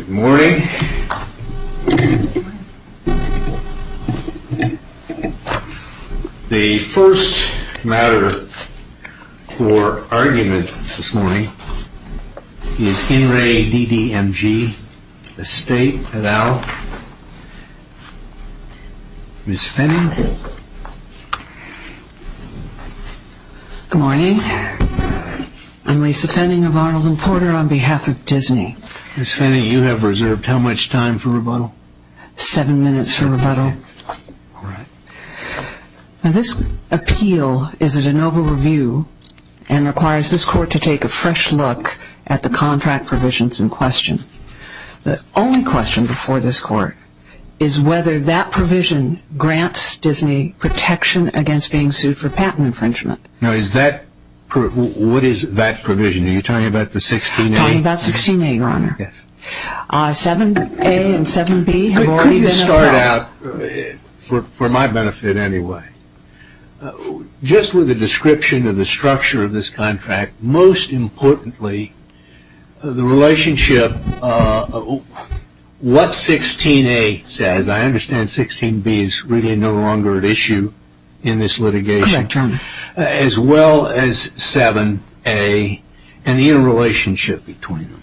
Good morning. The first matter for argument this morning is InReDDMG, the state et al. Ms. Fenning. Good morning. I'm Lisa Fenning of Arnold and Porter on behalf of Disney. Ms. Fenning, you have reserved how much time for rebuttal? Seven minutes for rebuttal. All right. Now, this appeal is a de novo review and requires this court to take a fresh look at the contract provisions in question. The only question before this court is whether that provision grants Disney protection against being sued for patent infringement. Now, what is that provision? Are you talking about the 16A? I'm talking about 16A, Your Honor. Yes. 7A and 7B have already been allowed. Could you start out, for my benefit anyway, just with a description of the structure of this contract, most importantly the relationship, what 16A says, I understand 16B is really no longer at issue in this litigation. Correct, Your Honor. As well as 7A and the interrelationship between them.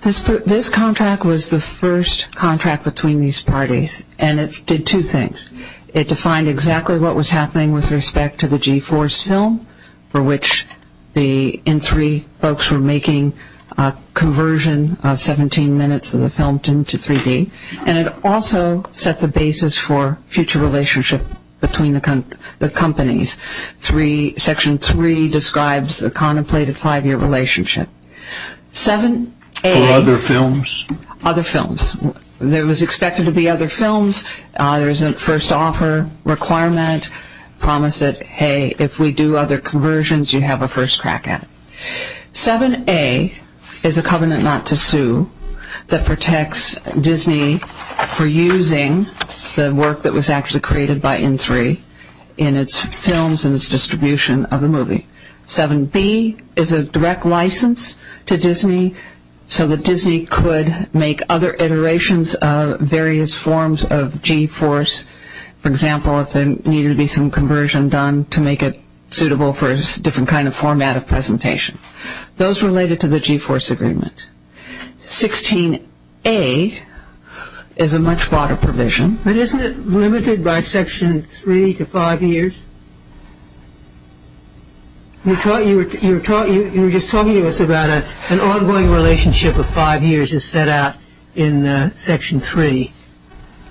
This contract was the first contract between these parties and it did two things. It defined exactly what was happening with respect to the G-Force film for which the N3 folks were making a conversion of 17 minutes of the film to 3D. And it also set the basis for future relationship between the companies. Section 3 describes a contemplated five-year relationship. For other films? Other films. There was expected to be other films. There is a first offer requirement promise that, hey, if we do other conversions, you have a first crack at it. 7A is a covenant not to sue that protects Disney for using the work that was actually created by N3 in its films and its distribution of the movie. 7B is a direct license to Disney so that Disney could make other iterations of various forms of G-Force. For example, if there needed to be some conversion done to make it suitable for a different kind of format of presentation. Those related to the G-Force agreement. 16A is a much broader provision. But isn't it limited by Section 3 to five years? You were just talking to us about an ongoing relationship of five years as set out in Section 3.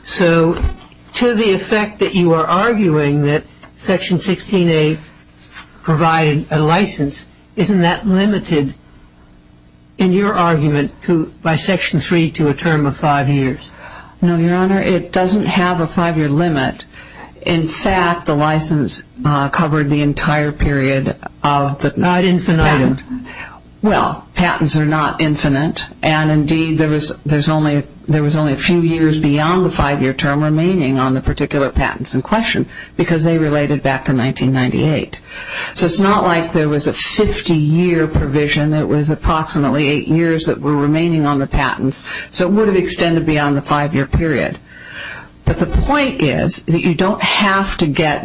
So to the effect that you are arguing that Section 16A provided a license, isn't that limited in your argument by Section 3 to a term of five years? No, Your Honor. It doesn't have a five-year limit. In fact, the license covered the entire period of the patent. Not infinite. Well, patents are not infinite. And indeed, there was only a few years beyond the five-year term remaining on the particular patents in question because they related back to 1998. So it's not like there was a 50-year provision. It was approximately eight years that were remaining on the patents. So it would have extended beyond the five-year period. But the point is that you don't have to get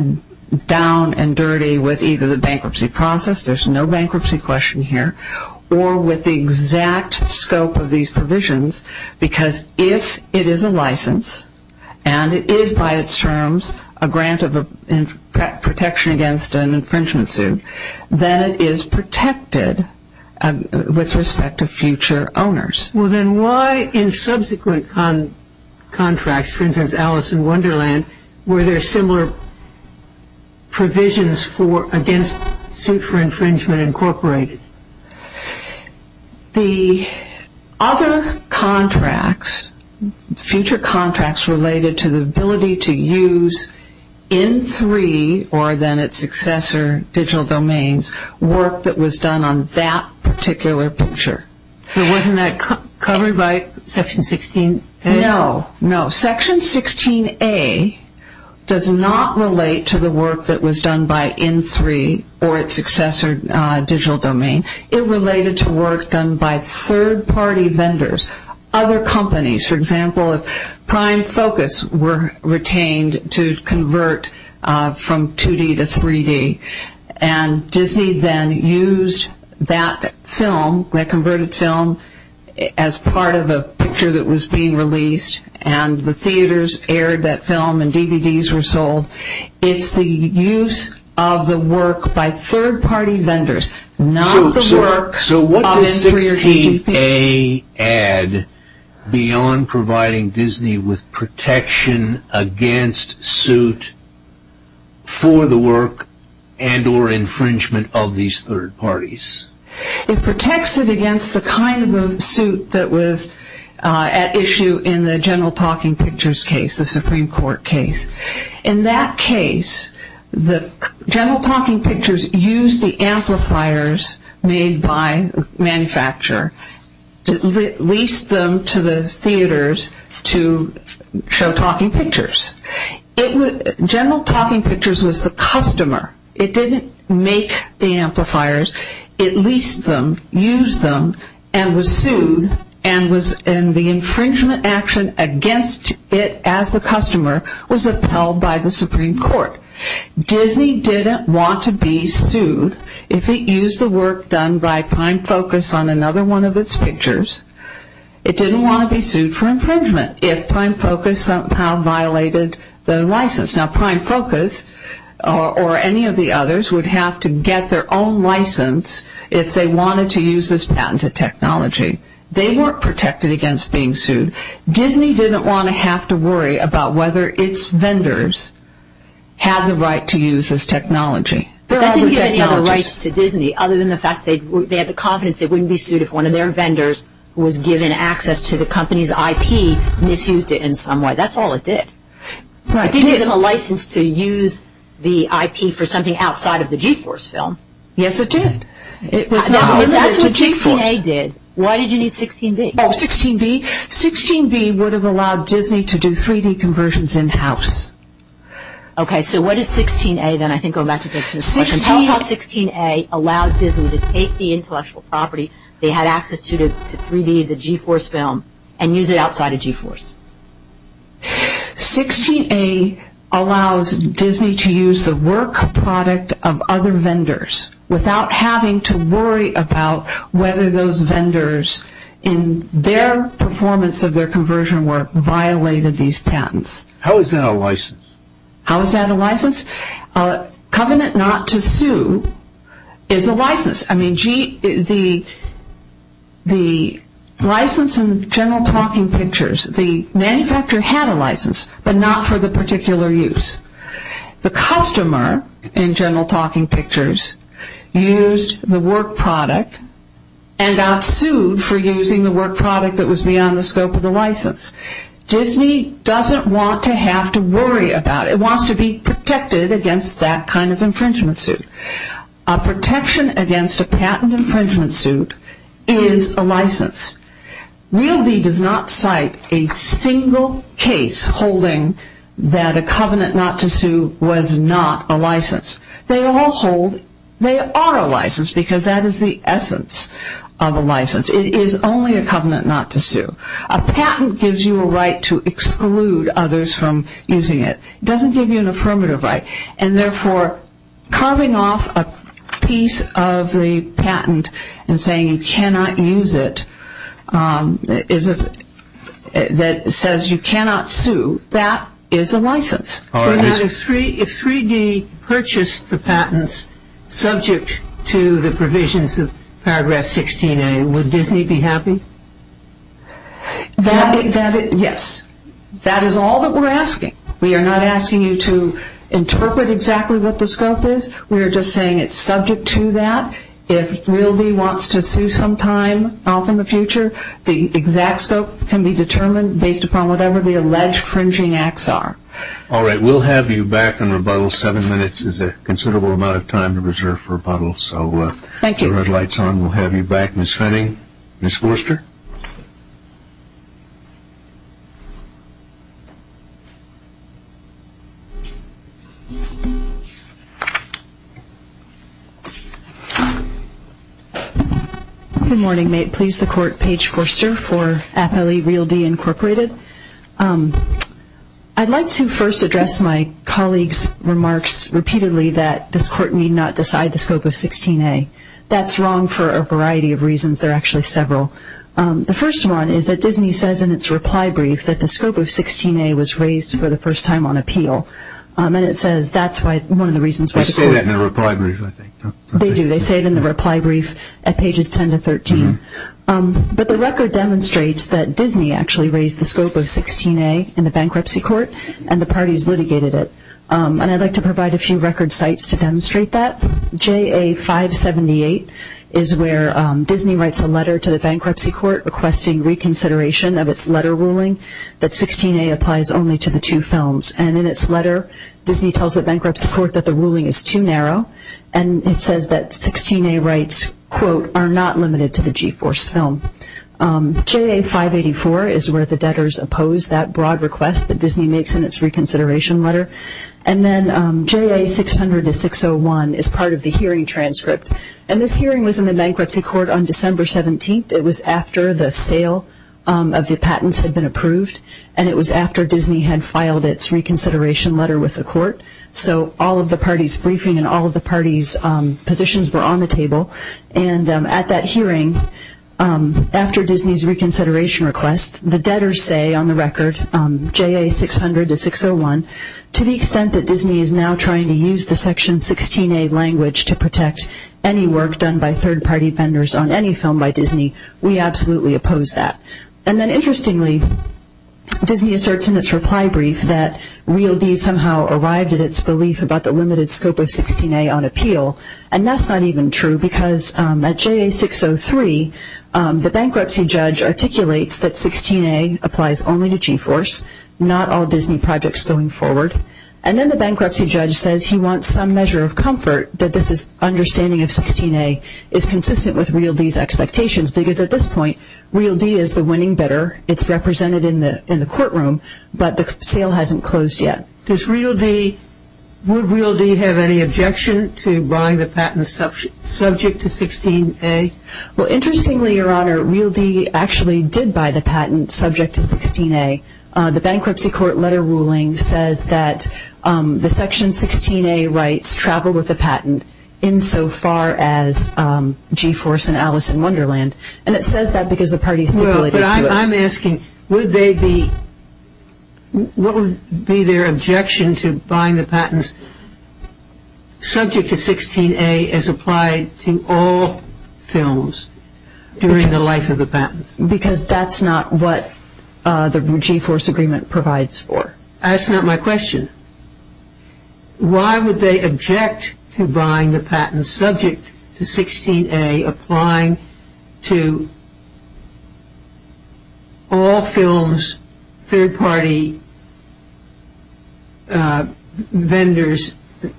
down and dirty with either the bankruptcy process, there's no bankruptcy question here, or with the exact scope of these provisions because if it is a license and it is by its terms a grant of protection against an infringement suit, then it is protected with respect to future owners. Well, then why in subsequent contracts, for instance, Alice in Wonderland, were there similar provisions against suit for infringement incorporated? The other contracts, future contracts related to the ability to use in three, or then its successor, digital domains, work that was done on that particular picture. Wasn't that covered by Section 16A? No, no. Section 16A does not relate to the work that was done by in three or its successor digital domain. It related to work done by third-party vendors, other companies. For example, if Prime Focus were retained to convert from 2D to 3D and Disney then used that film, that converted film, as part of a picture that was being released and the theaters aired that film and DVDs were sold, it's the use of the work by third-party vendors, not the work of in three or two people. beyond providing Disney with protection against suit for the work and or infringement of these third parties? It protects it against the kind of suit that was at issue in the General Talking Pictures case, the Supreme Court case. In that case, the General Talking Pictures used the amplifiers made by the manufacturer to lease them to the theaters to show Talking Pictures. General Talking Pictures was the customer. It didn't make the amplifiers. It leased them, used them, and was sued, and the infringement action against it as the customer was upheld by the Supreme Court. Disney didn't want to be sued if it used the work done by Prime Focus on another one of its pictures. It didn't want to be sued for infringement if Prime Focus somehow violated the license. Now, Prime Focus or any of the others would have to get their own license if they wanted to use this patented technology. They weren't protected against being sued. Disney didn't want to have to worry about whether its vendors had the right to use this technology. But that didn't give any other rights to Disney, other than the fact they had the confidence they wouldn't be sued if one of their vendors who was given access to the company's IP misused it in some way. That's all it did. Right. It didn't give them a license to use the IP for something outside of the GeForce film. Yes, it did. It was not limited to GeForce. If that's what 16A did, why did you need 16B? Oh, 16B? 16B would have allowed Disney to do 3D conversions in-house. Okay, so what does 16A then, I think, go back to this question. Tell us how 16A allowed Disney to take the intellectual property they had access to, to 3D, the GeForce film, and use it outside of GeForce. 16A allows Disney to use the work product of other vendors without having to worry about whether those vendors, in their performance of their conversion work, violated these patents. How is that a license? How is that a license? Covenant not to sue is a license. I mean, the license in General Talking Pictures, the manufacturer had a license, but not for the particular use. The customer in General Talking Pictures used the work product and got sued for using the work product that was beyond the scope of the license. Disney doesn't want to have to worry about it. It wants to be protected against that kind of infringement suit. A protection against a patent infringement suit is a license. Real D does not cite a single case holding that a covenant not to sue was not a license. They all hold they are a license because that is the essence of a license. It is only a covenant not to sue. A patent gives you a right to exclude others from using it. It doesn't give you an affirmative right, and therefore carving off a piece of the patent and saying you cannot use it that says you cannot sue, that is a license. If 3D purchased the patents subject to the provisions of Paragraph 16A, would Disney be happy? Yes. That is all that we're asking. We are not asking you to interpret exactly what the scope is. We are just saying it is subject to that. If Real D wants to sue sometime off in the future, the exact scope can be determined based upon whatever the alleged infringing acts are. All right. We will have you back in rebuttal. Seven minutes is a considerable amount of time to reserve for rebuttal. Thank you. The red light is on. We will have you back. Ms. Fenning. Ms. Forster. Good morning. May it please the Court, Paige Forster for AFL-E, Real D, Incorporated. I'd like to first address my colleague's remarks repeatedly that this Court need not decide the scope of 16A. That's wrong for a variety of reasons. There are actually several. The first one is that Disney says in its reply brief that the scope of 16A was raised for the first time on appeal. And it says that's one of the reasons why the Court- They say that in the reply brief, I think. They do. They say it in the reply brief at pages 10 to 13. But the record demonstrates that Disney actually raised the scope of 16A in the bankruptcy court, and the parties litigated it. And I'd like to provide a few record sites to demonstrate that. JA-578 is where Disney writes a letter to the bankruptcy court requesting reconsideration of its letter ruling that 16A applies only to the two films. And in its letter, Disney tells the bankruptcy court that the ruling is too narrow. And it says that 16A rights, quote, are not limited to the GeForce film. JA-584 is where the debtors oppose that broad request that Disney makes in its reconsideration letter. And then JA-600-601 is part of the hearing transcript. And this hearing was in the bankruptcy court on December 17th. It was after the sale of the patents had been approved, and it was after Disney had filed its reconsideration letter with the court. So all of the parties' briefing and all of the parties' positions were on the table. And at that hearing, after Disney's reconsideration request, the debtors say on the record, JA-600-601, to the extent that Disney is now trying to use the Section 16A language to protect any work done by third-party vendors on any film by Disney, we absolutely oppose that. And then interestingly, Disney asserts in its reply brief that Real D somehow arrived at its belief about the limited scope of 16A on appeal. And that's not even true because at JA-603, the bankruptcy judge articulates that 16A applies only to GeForce, not all Disney projects going forward. And then the bankruptcy judge says he wants some measure of comfort that this understanding of 16A is consistent with Real D's expectations because at this point, Real D is the winning bidder. It's represented in the courtroom, but the sale hasn't closed yet. Does Real D, would Real D have any objection to buying the patents subject to 16A? Well, interestingly, Your Honor, Real D actually did buy the patent subject to 16A. The bankruptcy court letter ruling says that the Section 16A rights travel with the patent insofar as GeForce and Alice in Wonderland. And it says that because the parties stipulated to it. Well, but I'm asking, would they be, what would be their objection to buying the patents subject to 16A as applied to all films during the life of the patents? Because that's not what the GeForce agreement provides for. That's not my question. Why would they object to buying the patents subject to 16A applying to all films, third-party vendors,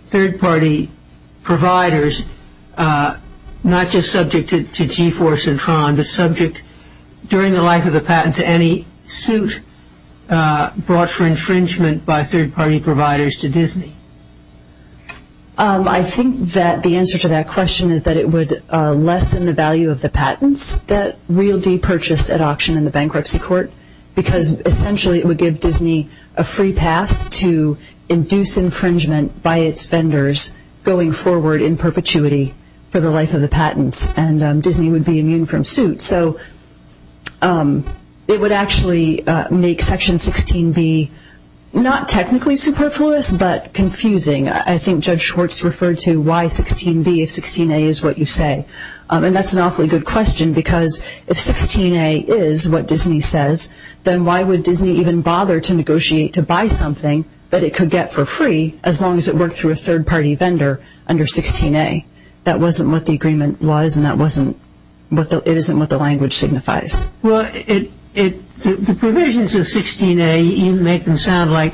third-party providers, not just subject to GeForce and Tron, but subject during the life of the patent to any suit brought for infringement by third-party providers to Disney? I think that the answer to that question is that it would lessen the value of the patents that Real D purchased at auction in the bankruptcy court because essentially it would give Disney a free pass to induce infringement by its vendors going forward in perpetuity for the life of the patents. And Disney would be immune from suit. So it would actually make Section 16B not technically superfluous, but confusing. I think Judge Schwartz referred to why 16B if 16A is what you say. And that's an awfully good question because if 16A is what Disney says, then why would Disney even bother to negotiate to buy something that it could get for free as long as it worked through a third-party vendor under 16A? That wasn't what the agreement was, and it isn't what the language signifies. Well, the provisions of 16A even make them sound like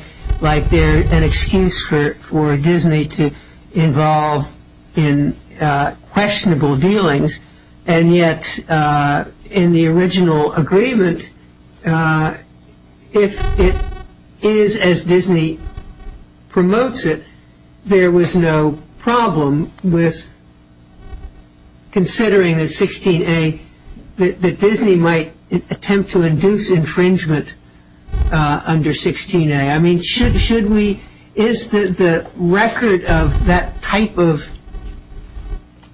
they're an excuse for Disney to involve in questionable dealings. And yet in the original agreement, if it is as Disney promotes it, there was no problem with considering that 16A, that Disney might attempt to induce infringement under 16A. I mean, is the record of that type of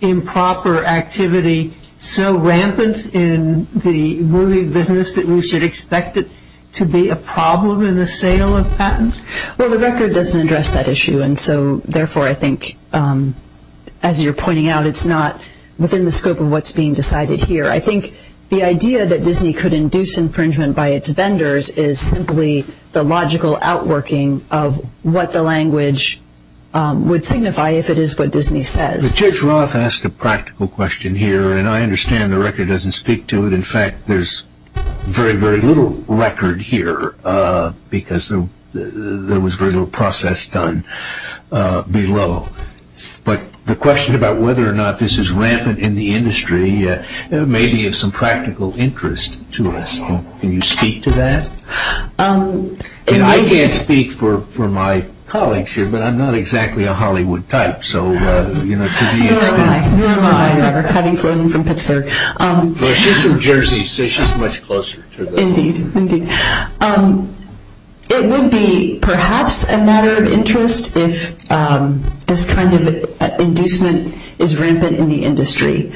improper activity so rampant in the movie business that we should expect it to be a problem in the sale of patents? Well, the record doesn't address that issue, and so therefore I think, as you're pointing out, it's not within the scope of what's being decided here. I think the idea that Disney could induce infringement by its vendors is simply the logical outworking of what the language would signify if it is what Disney says. But Judge Roth asked a practical question here, and I understand the record doesn't speak to it. In fact, there's very, very little record here because there was very little process done below. But the question about whether or not this is rampant in the industry may be of some practical interest to us. Can you speak to that? I can't speak for my colleagues here, but I'm not exactly a Hollywood type. Nor am I. Nor am I, however, having flown in from Pittsburgh. Well, she's from Jersey, so she's much closer to the point. Indeed. Indeed. It would be perhaps a matter of interest if this kind of inducement is rampant in the industry.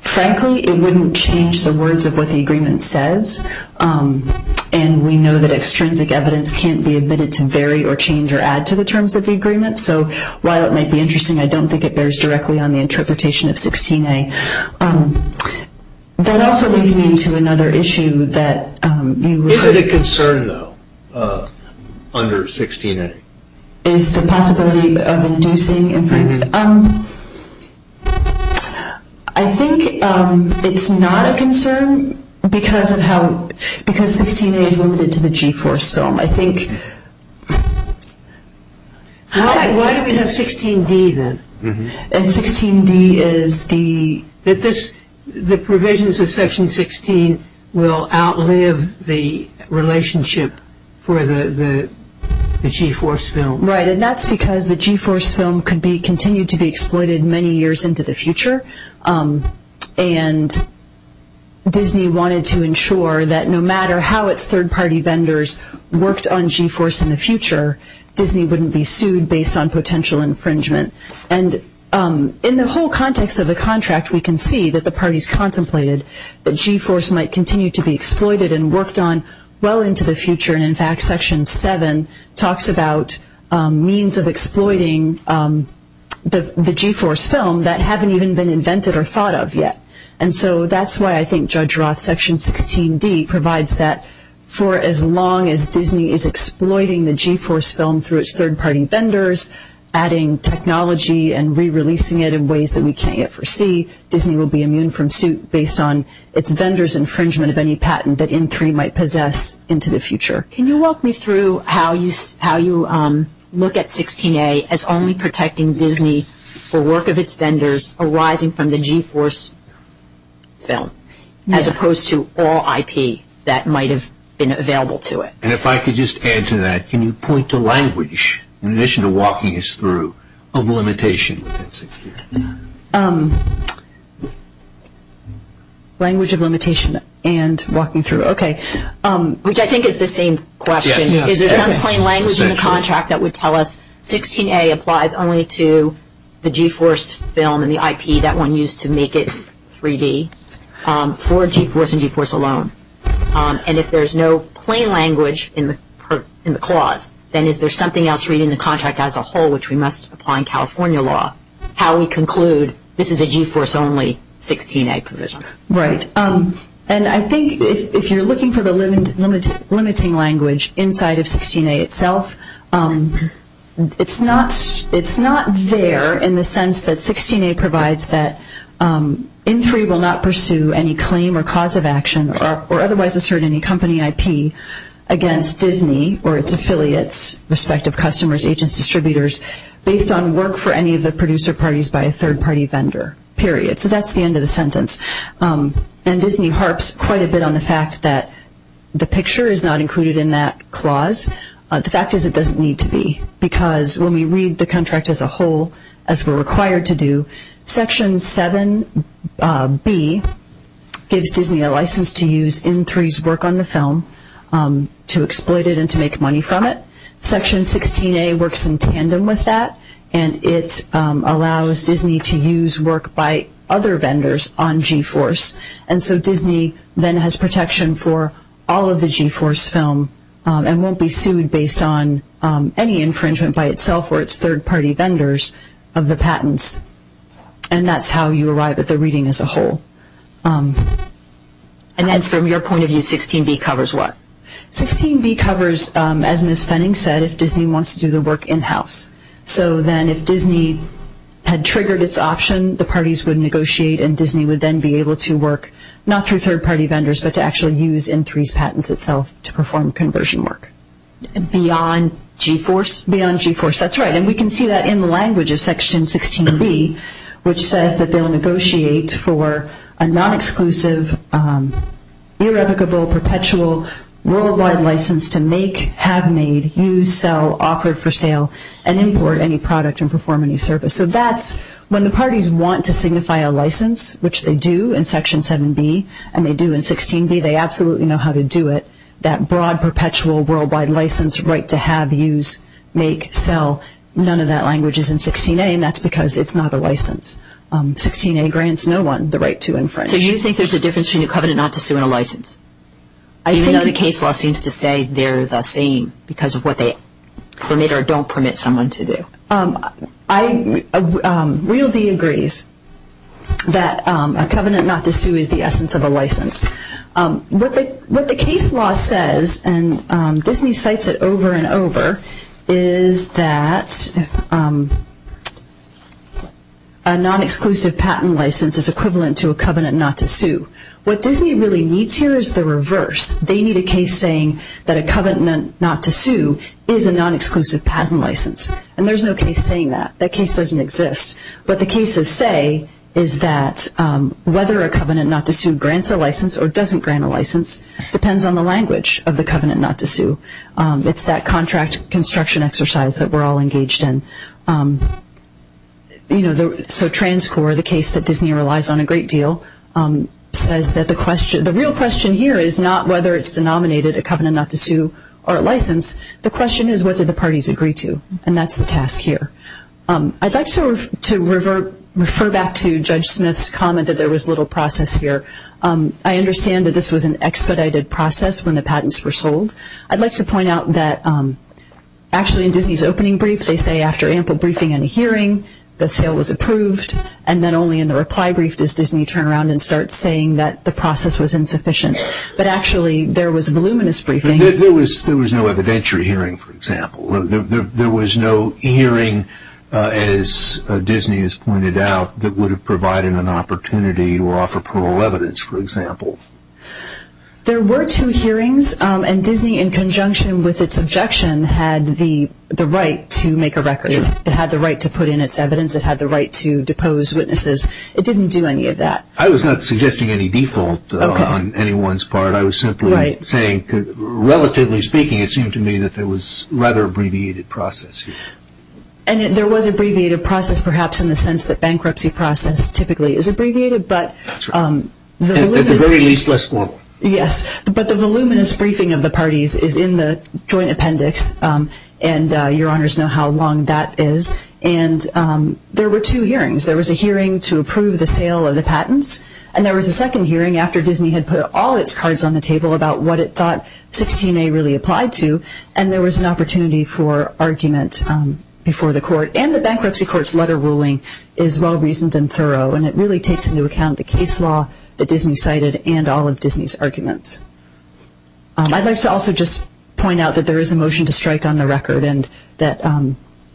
Frankly, it wouldn't change the words of what the agreement says, and we know that extrinsic evidence can't be admitted to vary or change or add to the terms of the agreement. So while it might be interesting, I don't think it bears directly on the interpretation of 16A. That also leads me to another issue that you raised. Is it a concern, though, under 16A? Is the possibility of inducing? I think it's not a concern because 16A is limited to the G-Force film. Why do we have 16D, then? And 16D is the... The provisions of Section 16 will outlive the relationship for the G-Force film. Right, and that's because the G-Force film could continue to be exploited many years into the future, and Disney wanted to ensure that no matter how its third-party vendors worked on G-Force in the future, Disney wouldn't be sued based on potential infringement. And in the whole context of the contract, we can see that the parties contemplated that G-Force might continue to be exploited and worked on well into the future, and in fact Section 7 talks about means of exploiting the G-Force film that haven't even been invented or thought of yet. And so that's why I think Judge Roth's Section 16D provides that for as long as Disney is exploiting the G-Force film through its third-party vendors, adding technology and re-releasing it in ways that we can't yet foresee, Disney will be immune from suit based on its vendors' infringement of any patent that N3 might possess into the future. Can you walk me through how you look at 16A as only protecting Disney for work of its vendors arising from the G-Force film, as opposed to all IP that might have been available to it? And if I could just add to that, can you point to language, in addition to walking us through, of limitation within 16A? Language of limitation and walking through, okay. Which I think is the same question. Is there some plain language in the contract that would tell us 16A applies only to the G-Force film and the IP that one used to make it 3D for G-Force and G-Force alone? And if there's no plain language in the clause, then is there something else reading the contract as a whole which we must apply in California law? How we conclude this is a G-Force only 16A provision? Right. And I think if you're looking for the limiting language inside of 16A itself, it's not there in the sense that 16A provides that N3 will not pursue any claim or cause of action or otherwise assert any company IP against Disney or its affiliates, respective customers, agents, distributors, based on work for any of the producer parties by a third-party vendor, period. So that's the end of the sentence. And Disney harps quite a bit on the fact that the picture is not included in that clause. The fact is it doesn't need to be because when we read the contract as a whole, as we're required to do, Section 7B gives Disney a license to use N3's work on the film to exploit it and to make money from it. Section 16A works in tandem with that, and it allows Disney to use work by other vendors on G-Force. And so Disney then has protection for all of the G-Force film and won't be sued based on any infringement by itself or its third-party vendors of the patents. And that's how you arrive at the reading as a whole. And then from your point of view, 16B covers what? 16B covers, as Ms. Fenning said, if Disney wants to do the work in-house. So then if Disney had triggered its option, the parties would negotiate and Disney would then be able to work not through third-party vendors but to actually use N3's patents itself to perform conversion work. Beyond G-Force? Beyond G-Force, that's right. And we can see that in the language of Section 16B, which says that they'll negotiate for a non-exclusive, irrevocable, perpetual, worldwide license to make, have made, use, sell, offer for sale, and import any product and perform any service. So that's when the parties want to signify a license, which they do in Section 7B, and they do in 16B, they absolutely know how to do it, that broad, perpetual, worldwide license right to have, use, make, sell. None of that language is in 16A, and that's because it's not a license. 16A grants no one the right to infringe. So you think there's a difference between a covenant not to sue and a license? Even though the case law seems to say they're the same because of what they permit or don't permit someone to do. Real D agrees that a covenant not to sue is the essence of a license. What the case law says, and Disney cites it over and over, is that a non-exclusive patent license is equivalent to a covenant not to sue. What Disney really needs here is the reverse. They need a case saying that a covenant not to sue is a non-exclusive patent license. And there's no case saying that. That case doesn't exist. What the cases say is that whether a covenant not to sue grants a license or doesn't grant a license depends on the language of the covenant not to sue. It's that contract construction exercise that we're all engaged in. So TransCore, the case that Disney relies on a great deal, says that the real question here is not whether it's denominated a covenant not to sue or a license. The question is what do the parties agree to, and that's the task here. I'd like to refer back to Judge Smith's comment that there was little process here. I understand that this was an expedited process when the patents were sold. I'd like to point out that actually in Disney's opening brief, they say after ample briefing and hearing, the sale was approved, and then only in the reply brief does Disney turn around and start saying that the process was insufficient. But actually there was voluminous briefing. There was no evidentiary hearing, for example. There was no hearing, as Disney has pointed out, that would have provided an opportunity to offer parole evidence, for example. There were two hearings, and Disney, in conjunction with its objection, had the right to make a record. It had the right to put in its evidence. It had the right to depose witnesses. It didn't do any of that. I was not suggesting any default on anyone's part. I was simply saying, relatively speaking, it seemed to me that there was a rather abbreviated process here. And there was an abbreviated process, perhaps in the sense that bankruptcy process typically is abbreviated. At the very least, less formal. Yes. But the voluminous briefing of the parties is in the joint appendix, and Your Honors know how long that is. There were two hearings. There was a hearing to approve the sale of the patents, and there was a second hearing after Disney had put all its cards on the table about what it thought 16A really applied to, and there was an opportunity for argument before the court. And the bankruptcy court's letter ruling is well-reasoned and thorough, and it really takes into account the case law that Disney cited and all of Disney's arguments. I'd like to also just point out that there is a motion to strike on the record, and that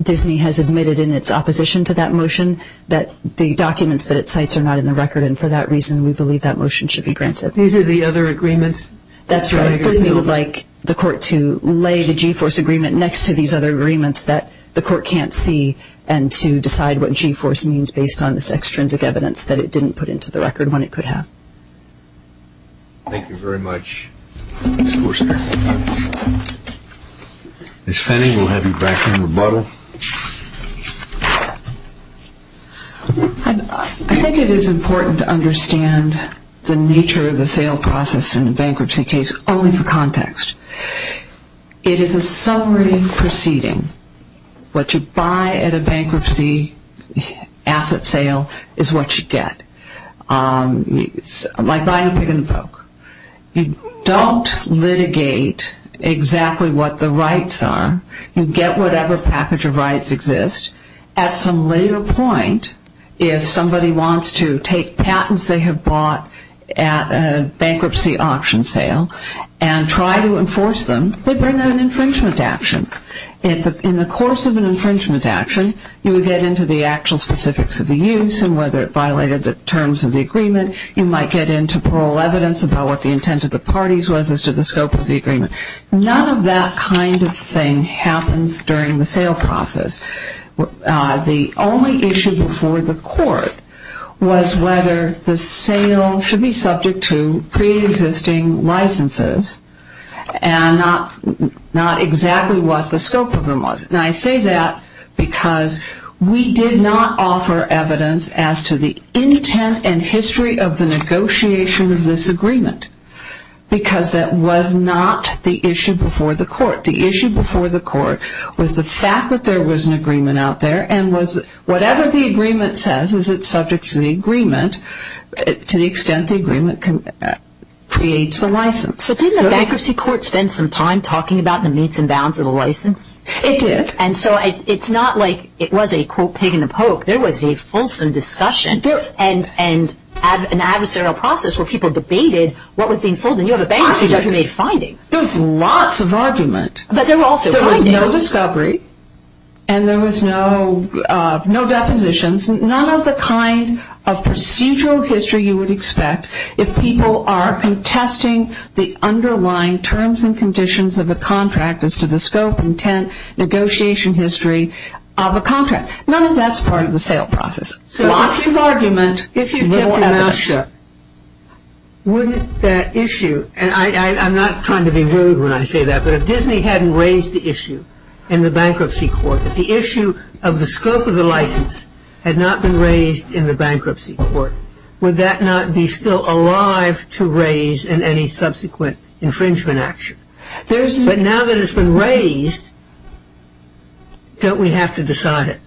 Disney has admitted in its opposition to that motion that the documents that it cites are not in the record, and for that reason we believe that motion should be granted. These are the other agreements? That's right. Disney would like the court to lay the G-Force agreement next to these other agreements that the court can't see and to decide what G-Force means based on this extrinsic evidence that it didn't put into the record when it could have. Thank you very much. Ms. Fenning, we'll have you back in rebuttal. I think it is important to understand the nature of the sale process in a bankruptcy case only for context. It is a summary proceeding. What you buy at a bankruptcy asset sale is what you get. It's like buying a pig and a poke. You don't litigate exactly what the rights are. You get whatever package of rights exist. At some later point, if somebody wants to take patents they have bought at a bankruptcy auction sale and try to enforce them, they bring an infringement action. In the course of an infringement action, you would get into the actual specifics of the use and whether it violated the terms of the agreement. You might get into parole evidence about what the intent of the parties was as to the scope of the agreement. None of that kind of thing happens during the sale process. The only issue before the court was whether the sale should be subject to preexisting licenses and not exactly what the scope of them was. And I say that because we did not offer evidence as to the intent and history of the negotiation of this agreement because that was not the issue before the court. The issue before the court was the fact that there was an agreement out there and whatever the agreement says is subject to the agreement to the extent the agreement creates the license. Didn't the bankruptcy court spend some time talking about the means and bounds of the license? It did. It's not like it was a pig and a poke. There was a fulsome discussion and an adversarial process where people debated what was being sold. And you have a bankruptcy judge who made findings. There was lots of argument. But there were also findings. There was no discovery and there was no depositions. None of the kind of procedural history you would expect if people are contesting the underlying terms and conditions of a contract as to the scope, intent, negotiation history of a contract. None of that's part of the sale process. Lots of argument. No evidence. Wouldn't that issue, and I'm not trying to be rude when I say that, but if Disney hadn't raised the issue in the bankruptcy court, if the issue of the scope of the license had not been raised in the bankruptcy court, would that not be still alive to raise in any subsequent infringement action? But now that it's been raised, don't we have to decide it?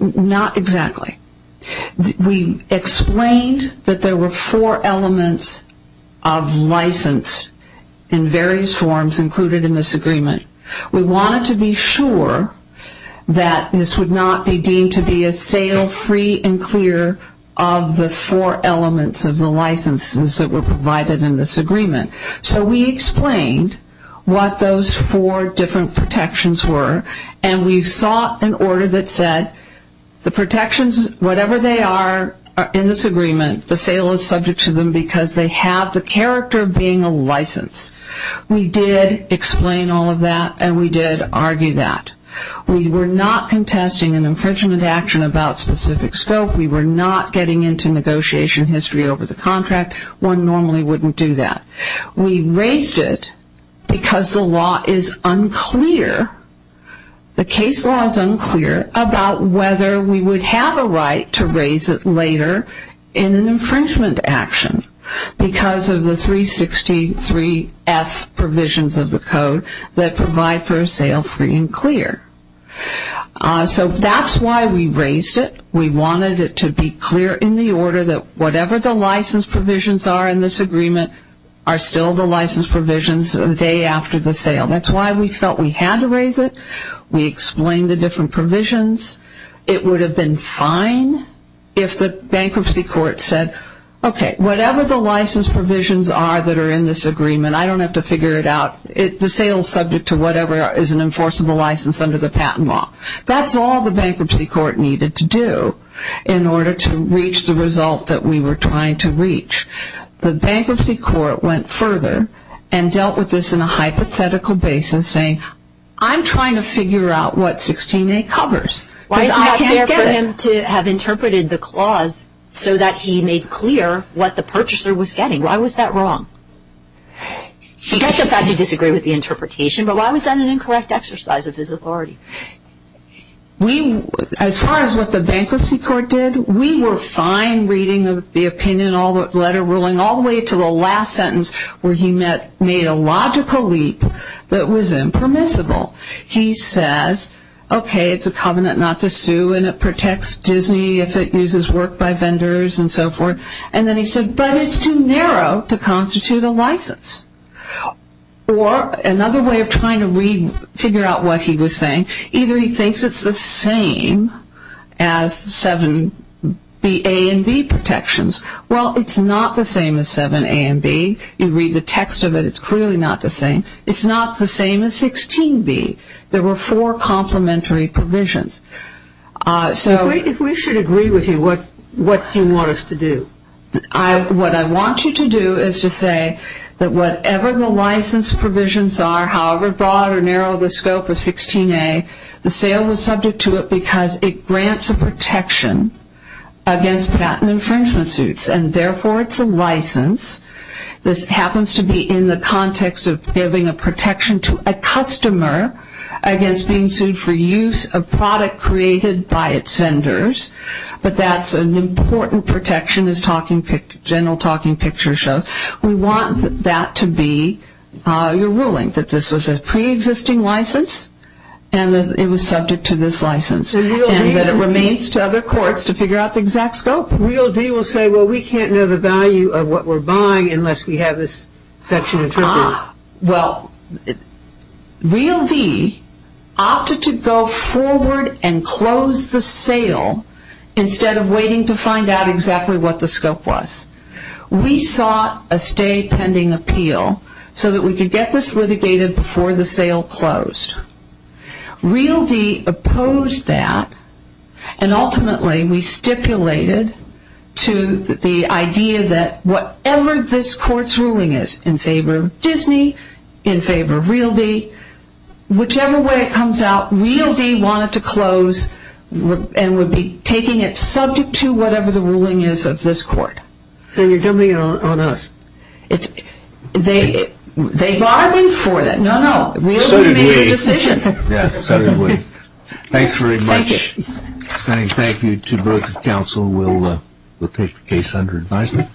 Not exactly. We explained that there were four elements of license in various forms included in this agreement. We wanted to be sure that this would not be deemed to be a sale free and clear of the four elements of the licenses that were provided in this agreement. So we explained what those four different protections were. And we sought an order that said the protections, whatever they are in this agreement, the sale is subject to them because they have the character of being a license. We did explain all of that, and we did argue that. We were not contesting an infringement action about specific scope. We were not getting into negotiation history over the contract. One normally wouldn't do that. We raised it because the law is unclear. The case law is unclear about whether we would have a right to raise it later in an infringement action because of the 363F provisions of the code that provide for a sale free and clear. So that's why we raised it. We wanted it to be clear in the order that whatever the license provisions are in this agreement are still the license provisions a day after the sale. That's why we felt we had to raise it. We explained the different provisions. It would have been fine if the bankruptcy court said, okay, whatever the license provisions are that are in this agreement, I don't have to figure it out. The sale is subject to whatever is an enforceable license under the patent law. That's all the bankruptcy court needed to do in order to reach the result that we were trying to reach. The bankruptcy court went further and dealt with this in a hypothetical basis, saying I'm trying to figure out what 16A covers. I can't get it. Why is it not fair for him to have interpreted the clause so that he made clear what the purchaser was getting? Why was that wrong? He gets the fact you disagree with the interpretation, but why was that an incorrect exercise of his authority? As far as what the bankruptcy court did, we were fine reading the opinion, all the letter ruling, all the way to the last sentence where he made a logical leap that was impermissible. He says, okay, it's a covenant not to sue and it protects Disney if it uses work by vendors and so forth. And then he said, but it's too narrow to constitute a license. Or another way of trying to figure out what he was saying, either he thinks it's the same as 7A and B protections. Well, it's not the same as 7A and B. You read the text of it, it's clearly not the same. It's not the same as 16B. There were four complementary provisions. If we should agree with you, what do you want us to do? What I want you to do is to say that whatever the license provisions are, however broad or narrow the scope of 16A, the sale was subject to it because it grants a protection against patent infringement suits and therefore it's a license. This happens to be in the context of giving a protection to a customer against being sued for use of product created by its vendors, but that's an important protection, as the general talking picture shows. We want that to be your ruling, that this was a preexisting license and that it was subject to this license and that it remains to other courts to figure out the exact scope. Real D will say, well, we can't know the value of what we're buying unless we have this section interpreted. Well, Real D opted to go forward and close the sale instead of waiting to find out exactly what the scope was. We sought a stay pending appeal so that we could get this litigated before the sale closed. Real D opposed that and ultimately we stipulated to the idea that whatever this court's ruling is in favor of Disney, in favor of Real D, whichever way it comes out, Real D wanted to close and would be taking it subject to whatever the ruling is of this court. So you're dumping it on us. They bargained for that. No, no, Real D made the decision. Yeah, certainly. Thanks very much. Thank you. And thank you to both the counsel. We'll take the case under advisement.